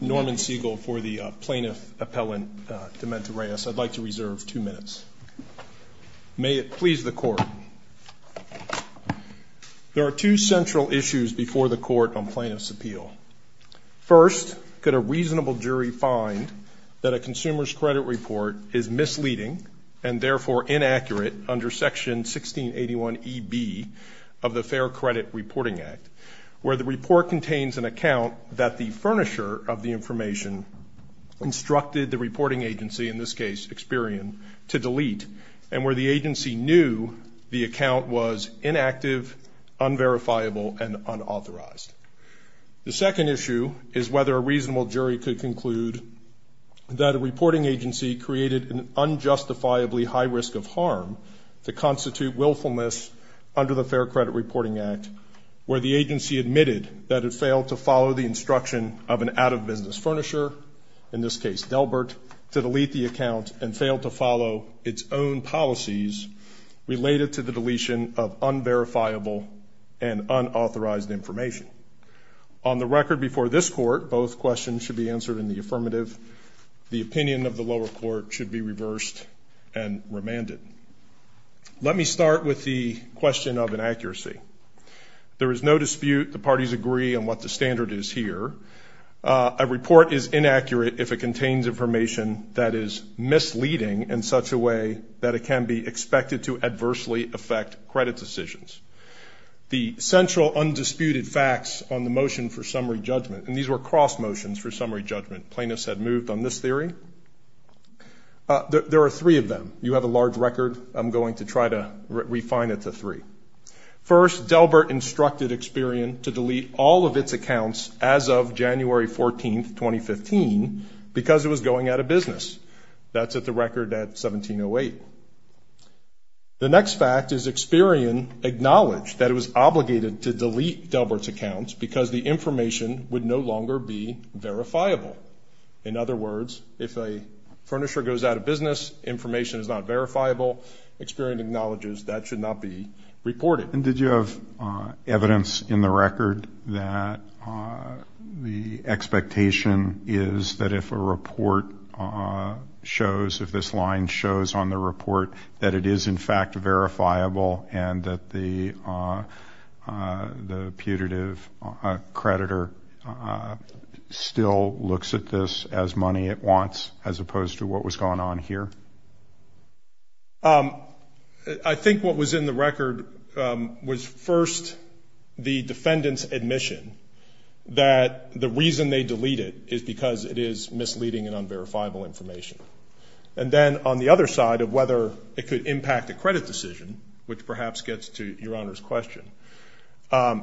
Norman Siegel for the Plaintiff Appellant to Meta Reyes. I'd like to reserve two minutes. May it please the Court. There are two central issues before the Court on Plaintiff's Appeal. First, could a reasonable jury find that a consumer's credit report is misleading and therefore inaccurate under Section 1681 E.B. of the Fair Credit Reporting Act, where the furnisher of the information instructed the reporting agency, in this case Experian, to delete and where the agency knew the account was inactive, unverifiable, and unauthorized? The second issue is whether a reasonable jury could conclude that a reporting agency created an unjustifiably high risk of harm to constitute willfulness under the Fair Credit Reporting Act, where the agency admitted that it failed to follow the instruction of an out-of-business furnisher, in this case Delbert, to delete the account and failed to follow its own policies related to the deletion of unverifiable and unauthorized information? On the record before this Court, both questions should be answered in the affirmative. The opinion of the lower court should be reversed and remanded. Let me start with the question of inaccuracy. There is no dispute the parties agree on what the standard is here. A report is inaccurate if it contains information that is misleading in such a way that it can be expected to adversely affect credit decisions. The central undisputed facts on the motion for summary judgment, and these were cross motions for summary judgment plaintiffs had moved on this theory. There are three of them. You have a large record. I'm going to try to refine it to three. First, Delbert instructed Experian to delete all of its accounts as of January 14, 2015, because it was going out of business. That's at the record at 1708. The next fact is Experian acknowledged that it was obligated to delete Delbert's accounts because the information would no longer be verifiable. In other words, if a furnisher goes out of business, information is not verifiable. Experian acknowledges that should not be reported. Did you have evidence in the record that the expectation is that if a report shows, if this line shows on the report, that it is in fact verifiable and that the people who are the executive creditor still looks at this as money at once as opposed to what was going on here? I think what was in the record was first the defendant's admission that the reason they deleted is because it is misleading and unverifiable information. And then on the other side of whether it could impact a credit decision, which perhaps gets to Your Honor's question.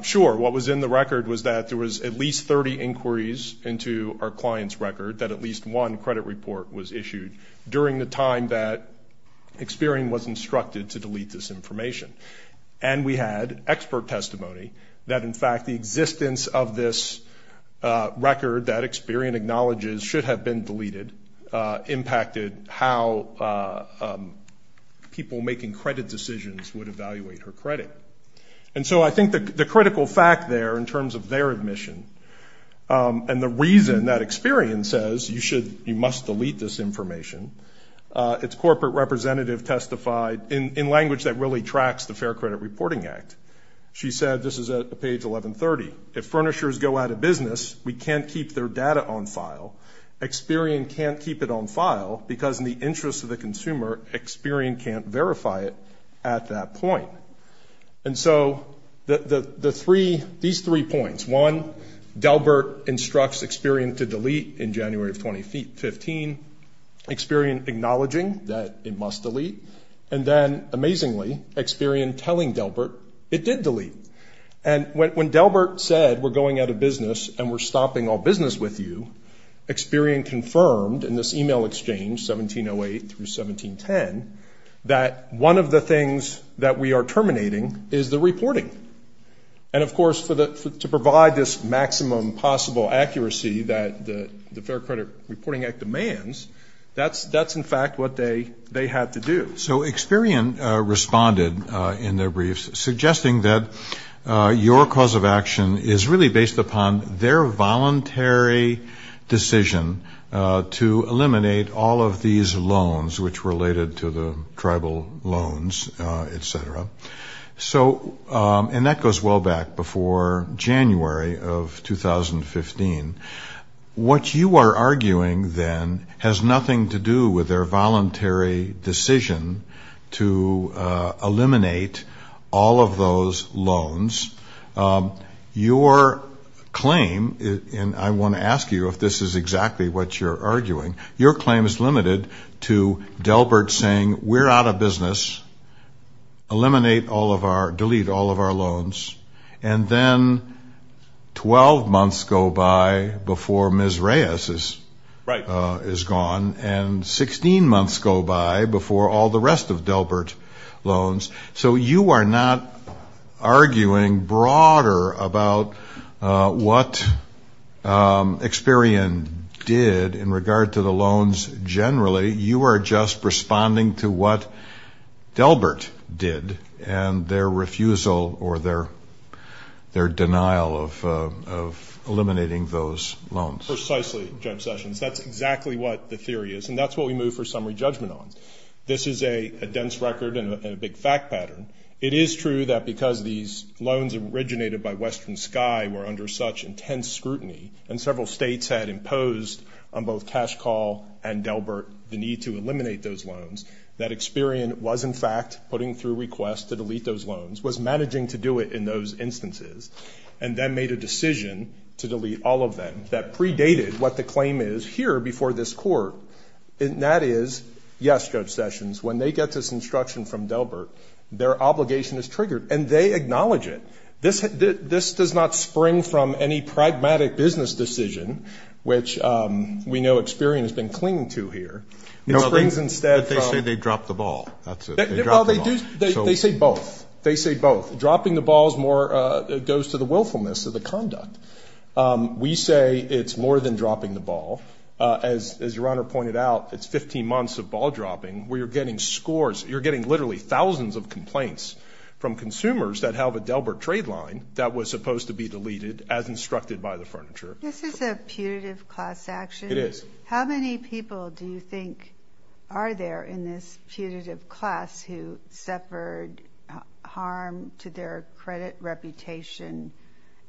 Sure, what was in the record was that there was at least 30 inquiries into our client's record that at least one credit report was issued during the time that Experian was instructed to delete this information. And we had expert testimony that in fact the existence of this record that Experian acknowledges should have been deleted impacted how people making credit decisions would evaluate her credit. And so I think the critical fact there in terms of their admission and the reason that Experian says you must delete this information, its corporate representative testified in language that really tracks the Fair Credit Reporting Act. She said, this is at page 1130, if furnishers go out of business, we can't keep their data on file. Experian can't keep it on file because in the interest of the consumer, Experian can't verify it at that point. And so the three, these three points, one, Delbert instructs Experian to delete in January of 2015, Experian acknowledging that it must delete, and then amazingly Experian telling Delbert it did delete. And when Delbert said we're going out of business and we're stopping all business with you, Experian confirmed in this email exchange, 1708 through 1710, that one of the things that we are terminating is the reporting. And of course to provide this maximum possible accuracy that the Fair Credit Reporting Act demands, that's in fact what they had to do. So Experian responded in their briefs suggesting that your cause of action is really based upon their voluntary decision to eliminate all of these loans, which related to the tribal loans, et cetera. So, and that goes well back before January of 2015. What you are arguing then has nothing to do with their voluntary decision to eliminate all of those loans. Your claim, and I want to ask you if this is exactly what you're arguing, your claim is limited to Delbert saying we're out of business, eliminate all of our, delete all of our loans, and then 12 months go by before Ms. Reyes is gone, and 16 months go by before all the rest of Delbert loans. So you are not arguing broader about what Experian did in regard to the loans generally. You are just responding to what Delbert did and their refusal or their denial of eliminating those loans. Precisely, Judge Sessions. That's exactly what the theory is, and that's what we move for summary judgment on. This is a dense record and a big fact pattern. It is true that because these loans originated by Western Sky were under such intense scrutiny, and several states had imposed on both Cash Call and Delbert the need to eliminate those loans, that Experian was in fact putting through requests to delete those loans, was managing to do it in those instances, and then made a decision to delete all of them that predated what the claim is here before this Court, and that is, yes, Judge Sessions, when they get this instruction from Delbert, their obligation is triggered, and they acknowledge it. This does not spring from any pragmatic business decision, which we know Experian has been clinging to here. No, but they say they dropped the ball. That's it. They dropped the ball. They say both. They say both. Dropping the ball goes to the willfulness of the conduct. We say it's more than dropping the ball. As Your Honor pointed out, it's 15 months of ball dropping where you're getting scores, you're getting literally thousands of complaints from consumers that have a Delbert trade line that was supposed to be deleted as instructed by the Furniture. This is a putative class action. It is. How many people do you think are there in this putative class who suffered harm to their credit reputation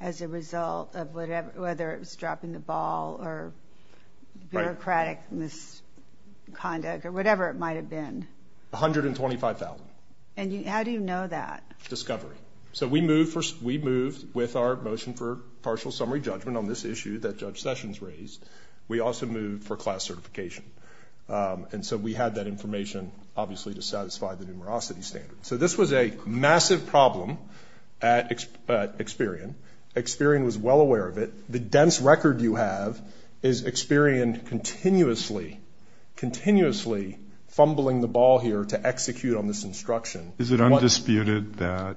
as a result of whether it was dropping the ball or bureaucratic misconduct or whatever it might have been? 125,000. And how do you know that? Discovery. So we moved with our motion for partial summary judgment on this issue that Judge Sessions raised. We also moved for class certification, and so we had that information obviously to satisfy the numerosity standard. So this was a massive problem at Experian. Experian was well aware of it. The dense record you have is Experian continuously, continuously fumbling the ball here to execute on this instruction. Is it undisputed that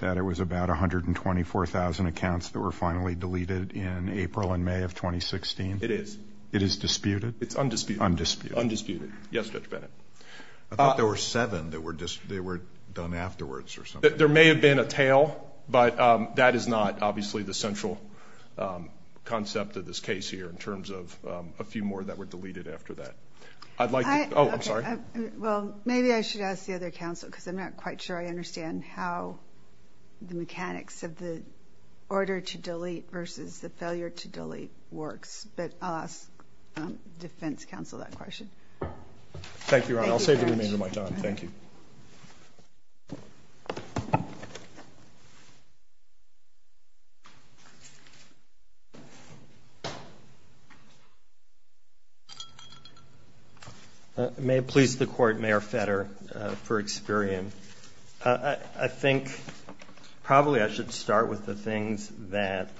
it was about 124,000 accounts that were finally deleted in April and May of 2016? It is. It is disputed? It's undisputed. Undisputed. Yes, Judge Bennett. I thought there were seven that were done afterwards or something. There may have been a tail, but that is not obviously the central concept of this case here in terms of a few more that were deleted after that. I'd like to... I... Oh, I'm sorry. Well, maybe I should ask the other counsel because I'm not quite sure I understand how the mechanics of the order to delete versus the failure to delete works, but I'll ask the defense counsel that question. Thank you, Your Honor. I'll save the remainder of my time. Thank you. May it please the Court, Mayor Fetter for Experian. I think probably I should start with the things that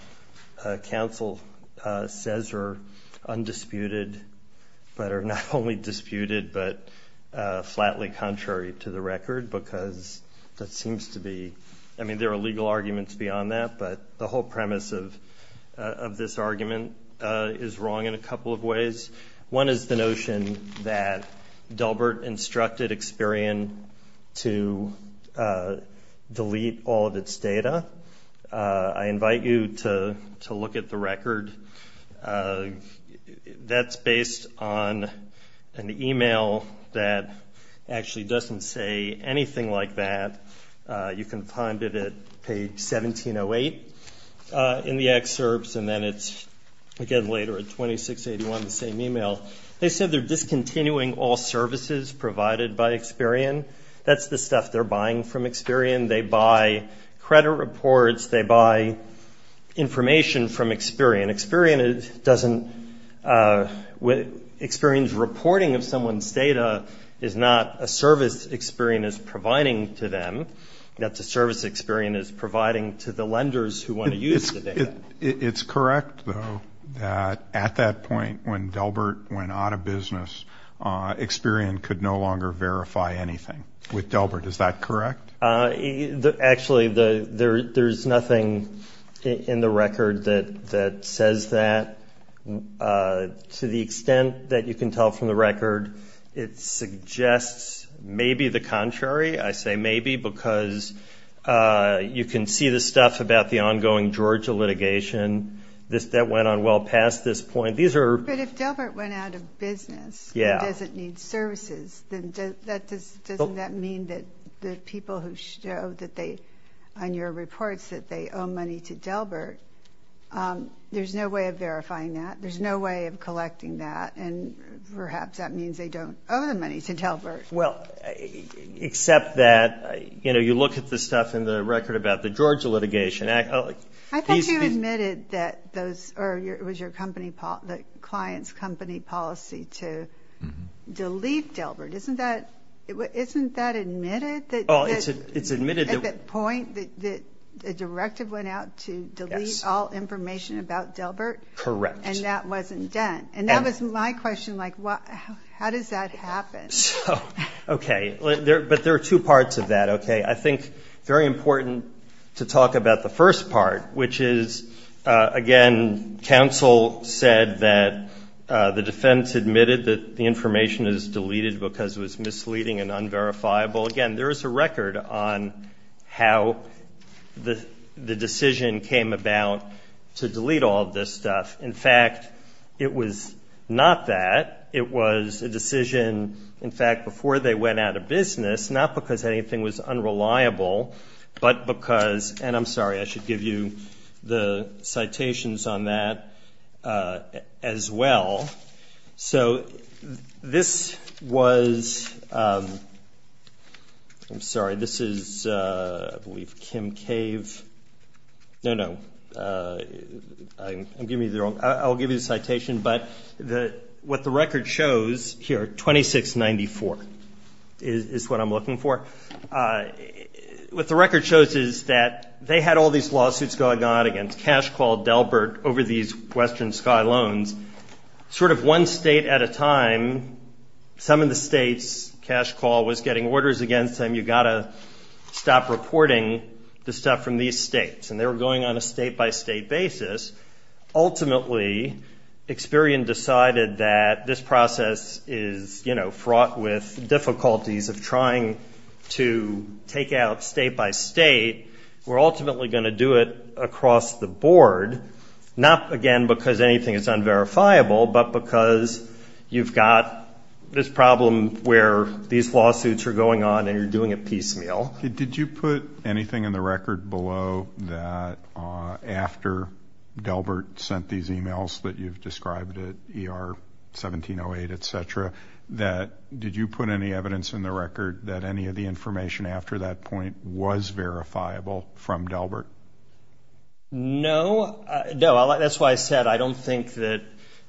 counsel says are undisputed but are not only disputed but flatly contrary to the record because that seems to be... I mean, there are legal arguments beyond that, but the whole premise of this argument is wrong in a couple of ways. One is the notion that Delbert instructed Experian to delete all of its data. I invite you to look at the record. That's based on an email that actually doesn't say anything like that. You can find it at page 1708 in the excerpts, and then it's again later at 2681, the same email. They said they're discontinuing all services provided by Experian. That's the stuff they're buying from Experian. They buy credit reports. They buy information from Experian. Experian doesn't... Experian's reporting of someone's data is not a service Experian is providing to them. That's a service Experian is providing to the lenders who want to use the data. It's correct, though, that at that point when Delbert went out of business, Experian could no longer verify anything with Delbert. Is that correct? Actually, there's nothing in the record that says that. To the extent that you can tell from the record, it suggests maybe the contrary. I say maybe because you can see the stuff about the ongoing Georgia litigation. That went on well past this point. But if Delbert went out of business and doesn't need services, then doesn't that mean that the people who show that they, on your reports, that they owe money to Delbert, there's no way of verifying that? There's no way of collecting that, and perhaps that means they don't owe the money to Delbert. Well, except that you look at the stuff in the record about the Georgia litigation... I thought you admitted that it was your client's company policy to delete Delbert. Isn't that admitted? It's admitted that... At that point, the directive went out to delete all information about Delbert? Correct. And that wasn't done. And that was my question, like, how does that happen? Okay. But there are two parts of that, okay? I think it's very important to talk about the first part, which is, again, counsel said that the defense admitted that the information is deleted because it was misleading and unverifiable. Again, there is a record on how the decision came about to delete all of this stuff. In fact, it was not that. It was a decision, in fact, before they went out of business, not because anything was unreliable, but because... And I'm sorry, I should give you the citations on that as well. So this was... I'm sorry, this is, I believe, Kim Cave. No, no. I'm giving you the wrong... I'll give you the citation, but what the record shows here, 2694 is what I'm looking for. What the record shows is that they had all these lawsuits going on against Cash Call Delbert over these Western Sky loans. Sort of one state at a time, some of the states, Cash Call was getting orders against them, you've got to stop reporting the stuff from these states, and they were going on a state-by-state basis. Ultimately, Experian decided that this process is fraught with difficulties of trying to take out state-by-state. We're ultimately going to do it across the board, not, again, because anything is unverifiable, but because you've got this problem where these lawsuits are going on and you're doing it piecemeal. Did you put anything in the record below that after Delbert sent these emails that you've described at ER 1708, etc., that did you put any evidence in the record that any of the information after that point was verifiable from Delbert? No. No, that's why I said I don't think that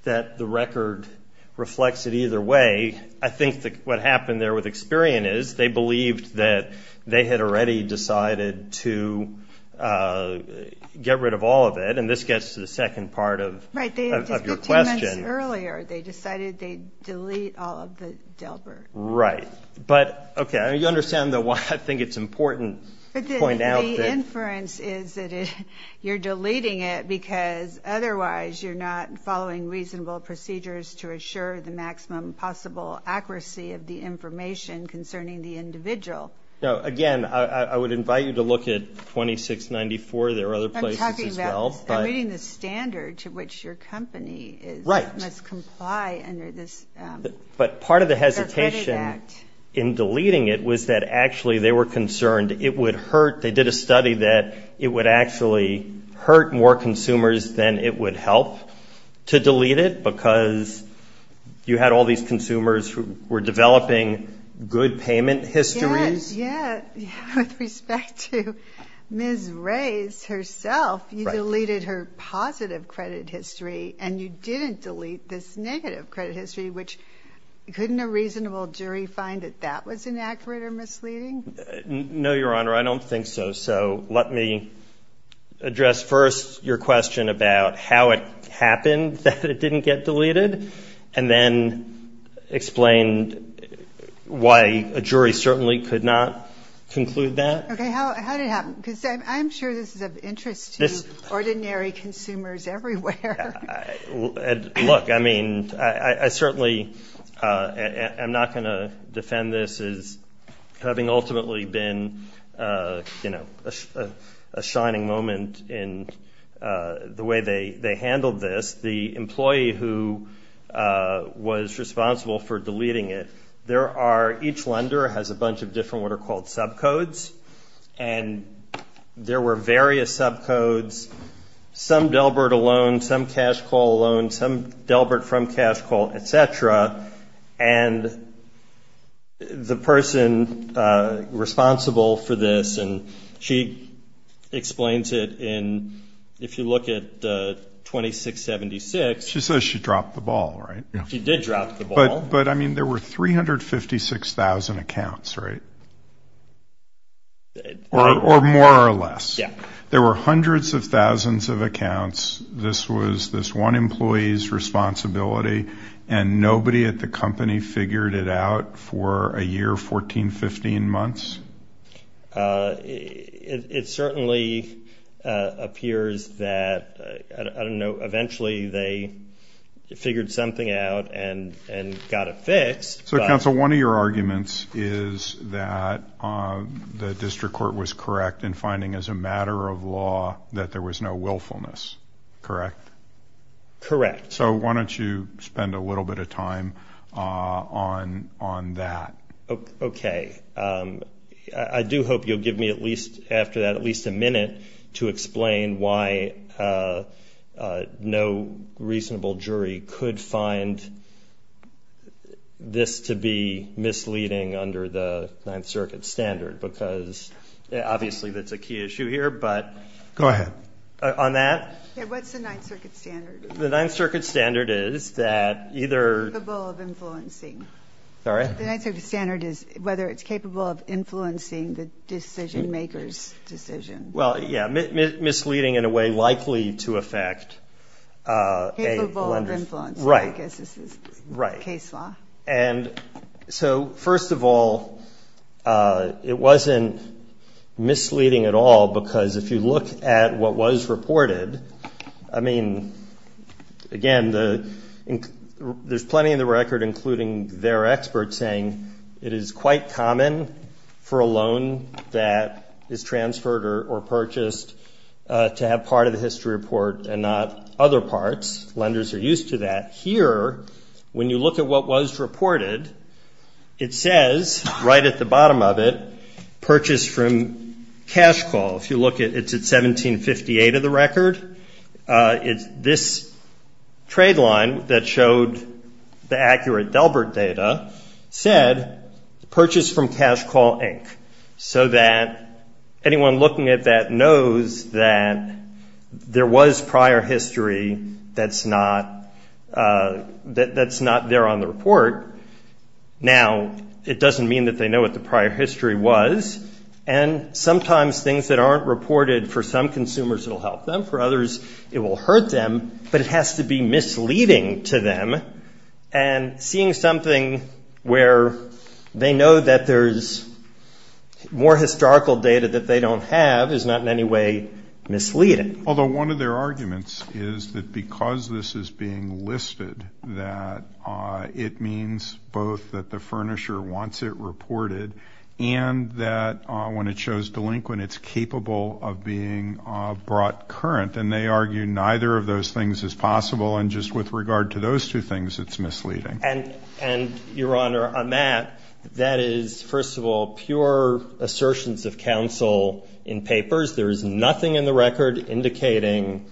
the record reflects it either way. I think what happened there with Experian is they believed that they had already decided to get rid of all of it, and this gets to the second part of your question. Right, just two months earlier, they decided they'd delete all of the Delbert. Right. But, okay, I mean, you understand why I think it's important to point out that. The inference is that you're deleting it because otherwise you're not following reasonable procedures to assure the maximum possible accuracy of the information concerning the individual. Again, I would invite you to look at 2694. There are other places as well, but. I'm talking about meeting the standard to which your company is. Right. Must comply under this. But part of the hesitation in deleting it was that actually they were concerned it would hurt. They did a study that it would actually hurt more consumers than it would help to delete it because you had all these consumers who were developing good payment histories. Yes, yes. With respect to Ms. Rays herself, you deleted her positive credit history, and you didn't delete this negative credit history, which couldn't a reasonable jury find that that was inaccurate or misleading? No, Your Honor, I don't think so. So let me address first your question about how it happened that it didn't get deleted and then explain why a jury certainly could not conclude that. Okay. How did it happen? Because I'm sure this is of interest to ordinary consumers everywhere. Look, I mean, I certainly am not going to defend this as having ultimately been a shining moment in the way they handled this. The employee who was responsible for deleting it, each lender has a bunch of different what are called subcodes, and there were various subcodes. Some Delbert alone, some cash call alone, some Delbert from cash call, et cetera. And the person responsible for this, and she explains it in, if you look at 2676. She says she dropped the ball, right? She did drop the ball. But, I mean, there were 356,000 accounts, right? Or more or less. Yeah. There were hundreds of thousands of accounts. This was this one employee's responsibility, and nobody at the company figured it out for a year, 14, 15 months? It certainly appears that, I don't know, eventually they figured something out and got it fixed. So, counsel, one of your arguments is that the district court was correct in finding as a matter of law that there was no willfulness, correct? Correct. So why don't you spend a little bit of time on that? Okay. I do hope you'll give me at least after that at least a minute to explain why no reasonable jury could find this to be misleading under the Ninth Circuit standard, because obviously that's a key issue here, but. Go ahead. On that? Yeah, what's the Ninth Circuit standard? The Ninth Circuit standard is that either... Capable of influencing. Sorry? The Ninth Circuit standard is whether it's capable of influencing the decision maker's decision. Well, yeah, misleading in a way likely to affect a lender... Capable of influencing. Right. I guess this is case law. Right. And so, first of all, it wasn't misleading at all, because if you look at what was reported, I mean, again, there's plenty in the record, including their experts, saying it is quite common for a loan that is transferred or purchased to have part of the history report and not other parts. Lenders are used to that. Here, when you look at what was reported, it says right at the bottom of it, purchase from cash call. If you look, it's at 1758 of the record. This trade line that showed the accurate Delbert data said purchase from cash call, Inc., so that anyone looking at that knows that there was prior history that's not there on the report. Now, it doesn't mean that they know what the prior history was, and sometimes things that aren't reported, for some consumers it will help them, for others it will hurt them, but it has to be misleading to them, and seeing something where they know that there's more historical data that they don't have is not in any way misleading. Although one of their arguments is that because this is being listed, that it means both that the furnisher wants it reported and that when it shows delinquent, it's capable of being brought current, and they argue neither of those things is possible, and just with regard to those two things, it's misleading. And, Your Honor, on that, that is, first of all, pure assertions of counsel in papers. There is nothing in the record indicating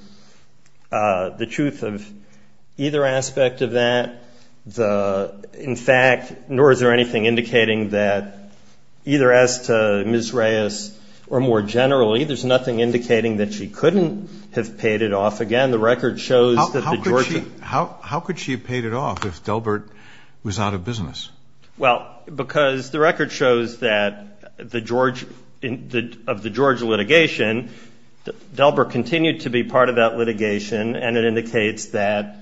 the truth of either aspect of that. In fact, nor is there anything indicating that either as to Ms. Reyes or more generally, there's nothing indicating that she couldn't have paid it off again. The record shows that the Georgia ---- How could she have paid it off if Delbert was out of business? Well, because the record shows that the Georgia litigation, Delbert continued to be part of that litigation, and it indicates that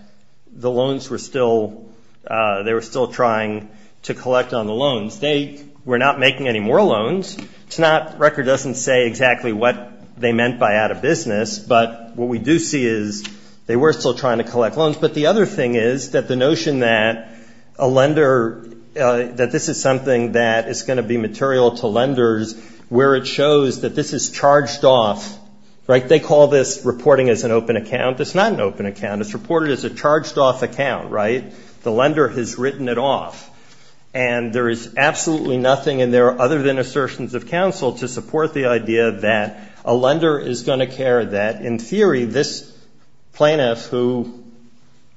the loans were still ---- they were still trying to collect on the loans. They were not making any more loans. It's not ---- the record doesn't say exactly what they meant by out of business, but what we do see is they were still trying to collect loans. But the other thing is that the notion that a lender ---- that this is something that is going to be material to lenders where it shows that this is charged off, right? They call this reporting as an open account. It's not an open account. It's reported as a charged off account, right? The lender has written it off. And there is absolutely nothing in there other than assertions of counsel to support the idea that a lender is going to care, that in theory this plaintiff who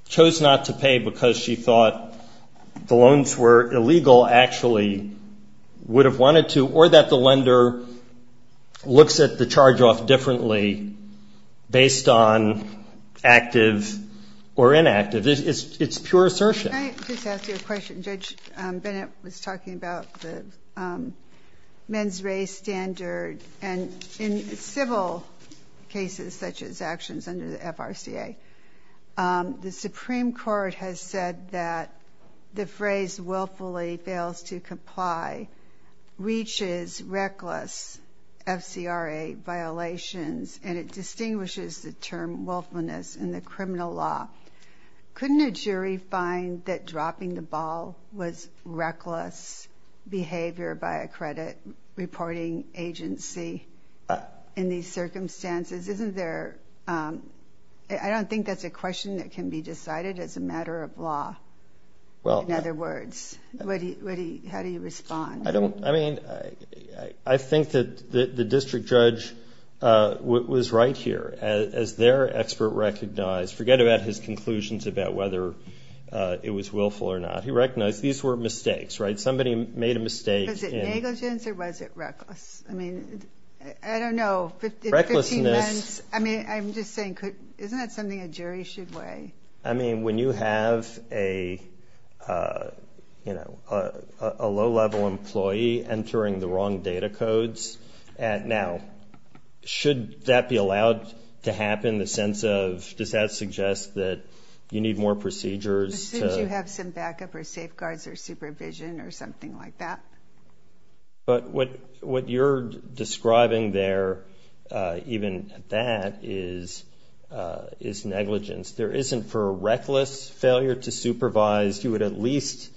chose not to pay because she thought the loans were illegal actually would have wanted to, or that the lender looks at the charge off differently based on active or inactive. It's pure assertion. Judge Bennett was talking about the men's race standard and in civil cases such as actions under the FRCA, the Supreme Court has said that the phrase willfully fails to comply reaches reckless FCRA violations and it distinguishes the term willfulness in the criminal law. Couldn't a jury find that dropping the ball was reckless behavior by a credit reporting agency in these circumstances? Isn't there ---- I don't think that's a question that can be decided as a matter of law, in other words. How do you respond? I think that the district judge was right here. As their expert recognized, forget about his conclusions about whether it was willful or not. He recognized these were mistakes, right? Somebody made a mistake. Was it negligence or was it reckless? I mean, I don't know. Recklessness. I mean, I'm just saying, isn't that something a jury should weigh? I mean, when you have a low-level employee entering the wrong data codes, now, should that be allowed to happen? Does that suggest that you need more procedures? As soon as you have some backup or safeguards or supervision or something like that. But what you're describing there, even that, is negligence. There isn't, for a reckless failure to supervise, you would at least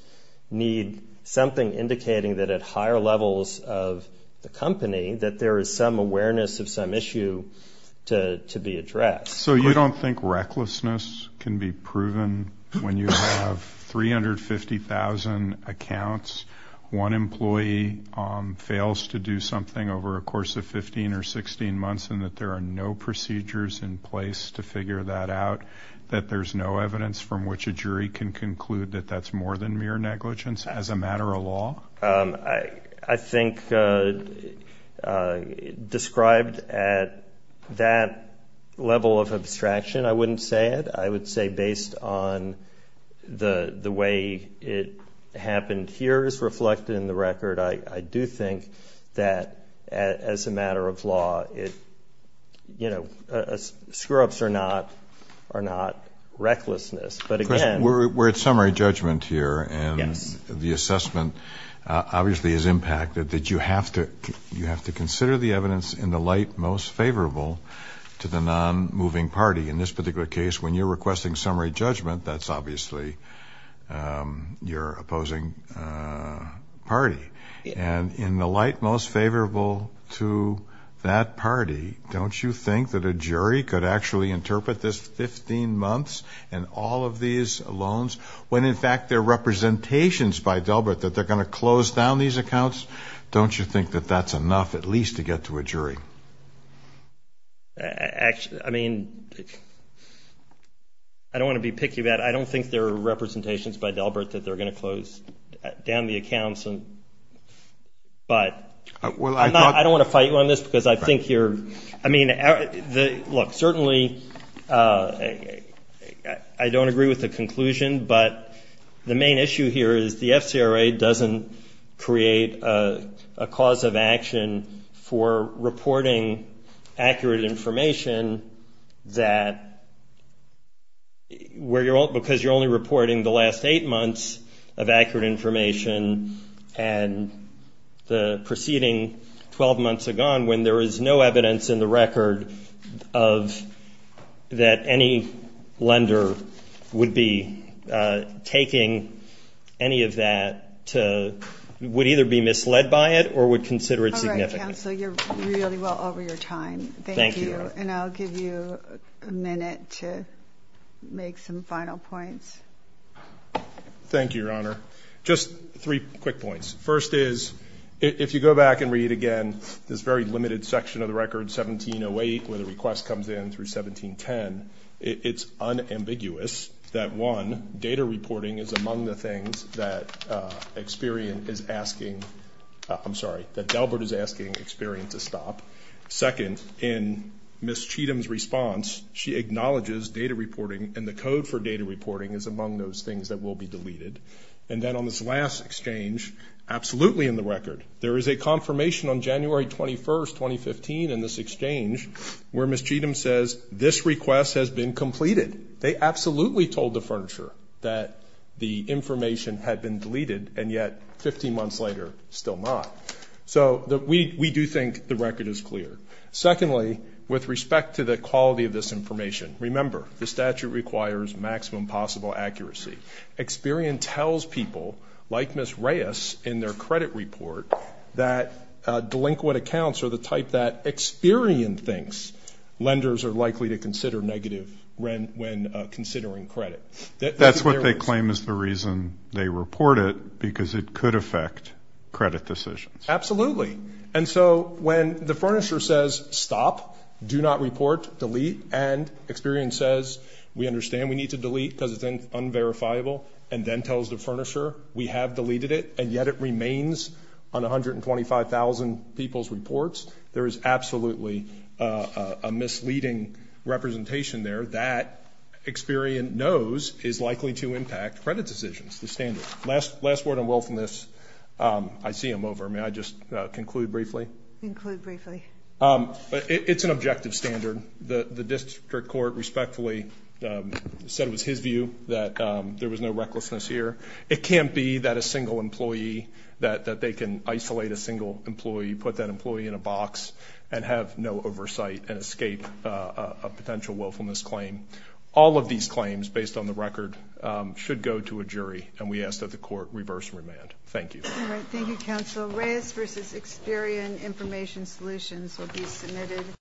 need something indicating that at higher levels of the company, that there is some awareness of some issue to be addressed. So you don't think recklessness can be proven when you have 350,000 accounts, one employee fails to do something over a course of 15 or 16 months and that there are no procedures in place to figure that out, that there's no evidence from which a jury can conclude that that's more than mere negligence as a matter of law? I think described at that level of abstraction, I wouldn't say it. I would say based on the way it happened here is reflected in the record. I do think that as a matter of law, screw-ups are not recklessness. We're at summary judgment here, and the assessment obviously is impacted, that you have to consider the evidence in the light most favorable to the non-moving party. In this particular case, when you're requesting summary judgment, that's obviously your opposing party. And in the light most favorable to that party, don't you think that a jury could actually interpret this 15 months and all of these loans, when in fact they're representations by Delbert that they're going to close down these accounts? Don't you think that that's enough at least to get to a jury? Actually, I mean, I don't want to be picky about it. I don't think they're representations by Delbert that they're going to close down the accounts. But I don't want to fight you on this because I think you're, I mean, look, certainly I don't agree with the conclusion, but the main issue here is the FCRA doesn't create a cause of action for reporting accurate information that, because you're only reporting the last eight months of accurate information and the preceding 12 months are gone, when there is no evidence in the record of that any lender would be able to report accurate information. Taking any of that would either be misled by it or would consider it significant. All right, counsel, you're really well over your time. Thank you. And I'll give you a minute to make some final points. Thank you, Your Honor. Just three quick points. First is, if you go back and read again this very limited section of the record, 1708, where the request comes in through 1710, it's unambiguous that, one, data reporting is among the things that Experian is asking, I'm sorry, that Delbert is asking Experian to stop. Second, in Ms. Cheatham's response, she acknowledges data reporting, and the code for data reporting is among those things that will be deleted. And then on this last exchange, absolutely in the record, there is a confirmation on January 21st, 2015, in this exchange, where Ms. Cheatham says this request has been completed. They absolutely told the furniture that the information had been deleted, and yet 15 months later, still not. So we do think the record is clear. Secondly, with respect to the quality of this information, remember, the statute requires maximum possible accuracy. Experian tells people, like Ms. Reyes in their credit report, that delinquent accounts are the type that Experian thinks lenders are likely to consider negative when considering credit. That's what they claim is the reason they report it, because it could affect credit decisions. Absolutely. And so when the furnisher says, stop, do not report, delete, and Experian says, we understand we need to delete because it's unverifiable, and then tells the furnisher we have deleted it, and yet it remains on 125,000 people's reports, there is absolutely a misleading representation there that Experian knows is likely to impact credit decisions, the standard. Last word on willfulness. I see I'm over. May I just conclude briefly? Include briefly. It's an objective standard. The district court respectfully said it was his view that there was no recklessness here. It can't be that a single employee, that they can isolate a single employee, put that employee in a box and have no oversight and escape a potential willfulness claim. All of these claims, based on the record, should go to a jury, and we ask that the court reverse remand. Thank you. Thank you, counsel. Reyes v. Experian Information Solutions will be submitted.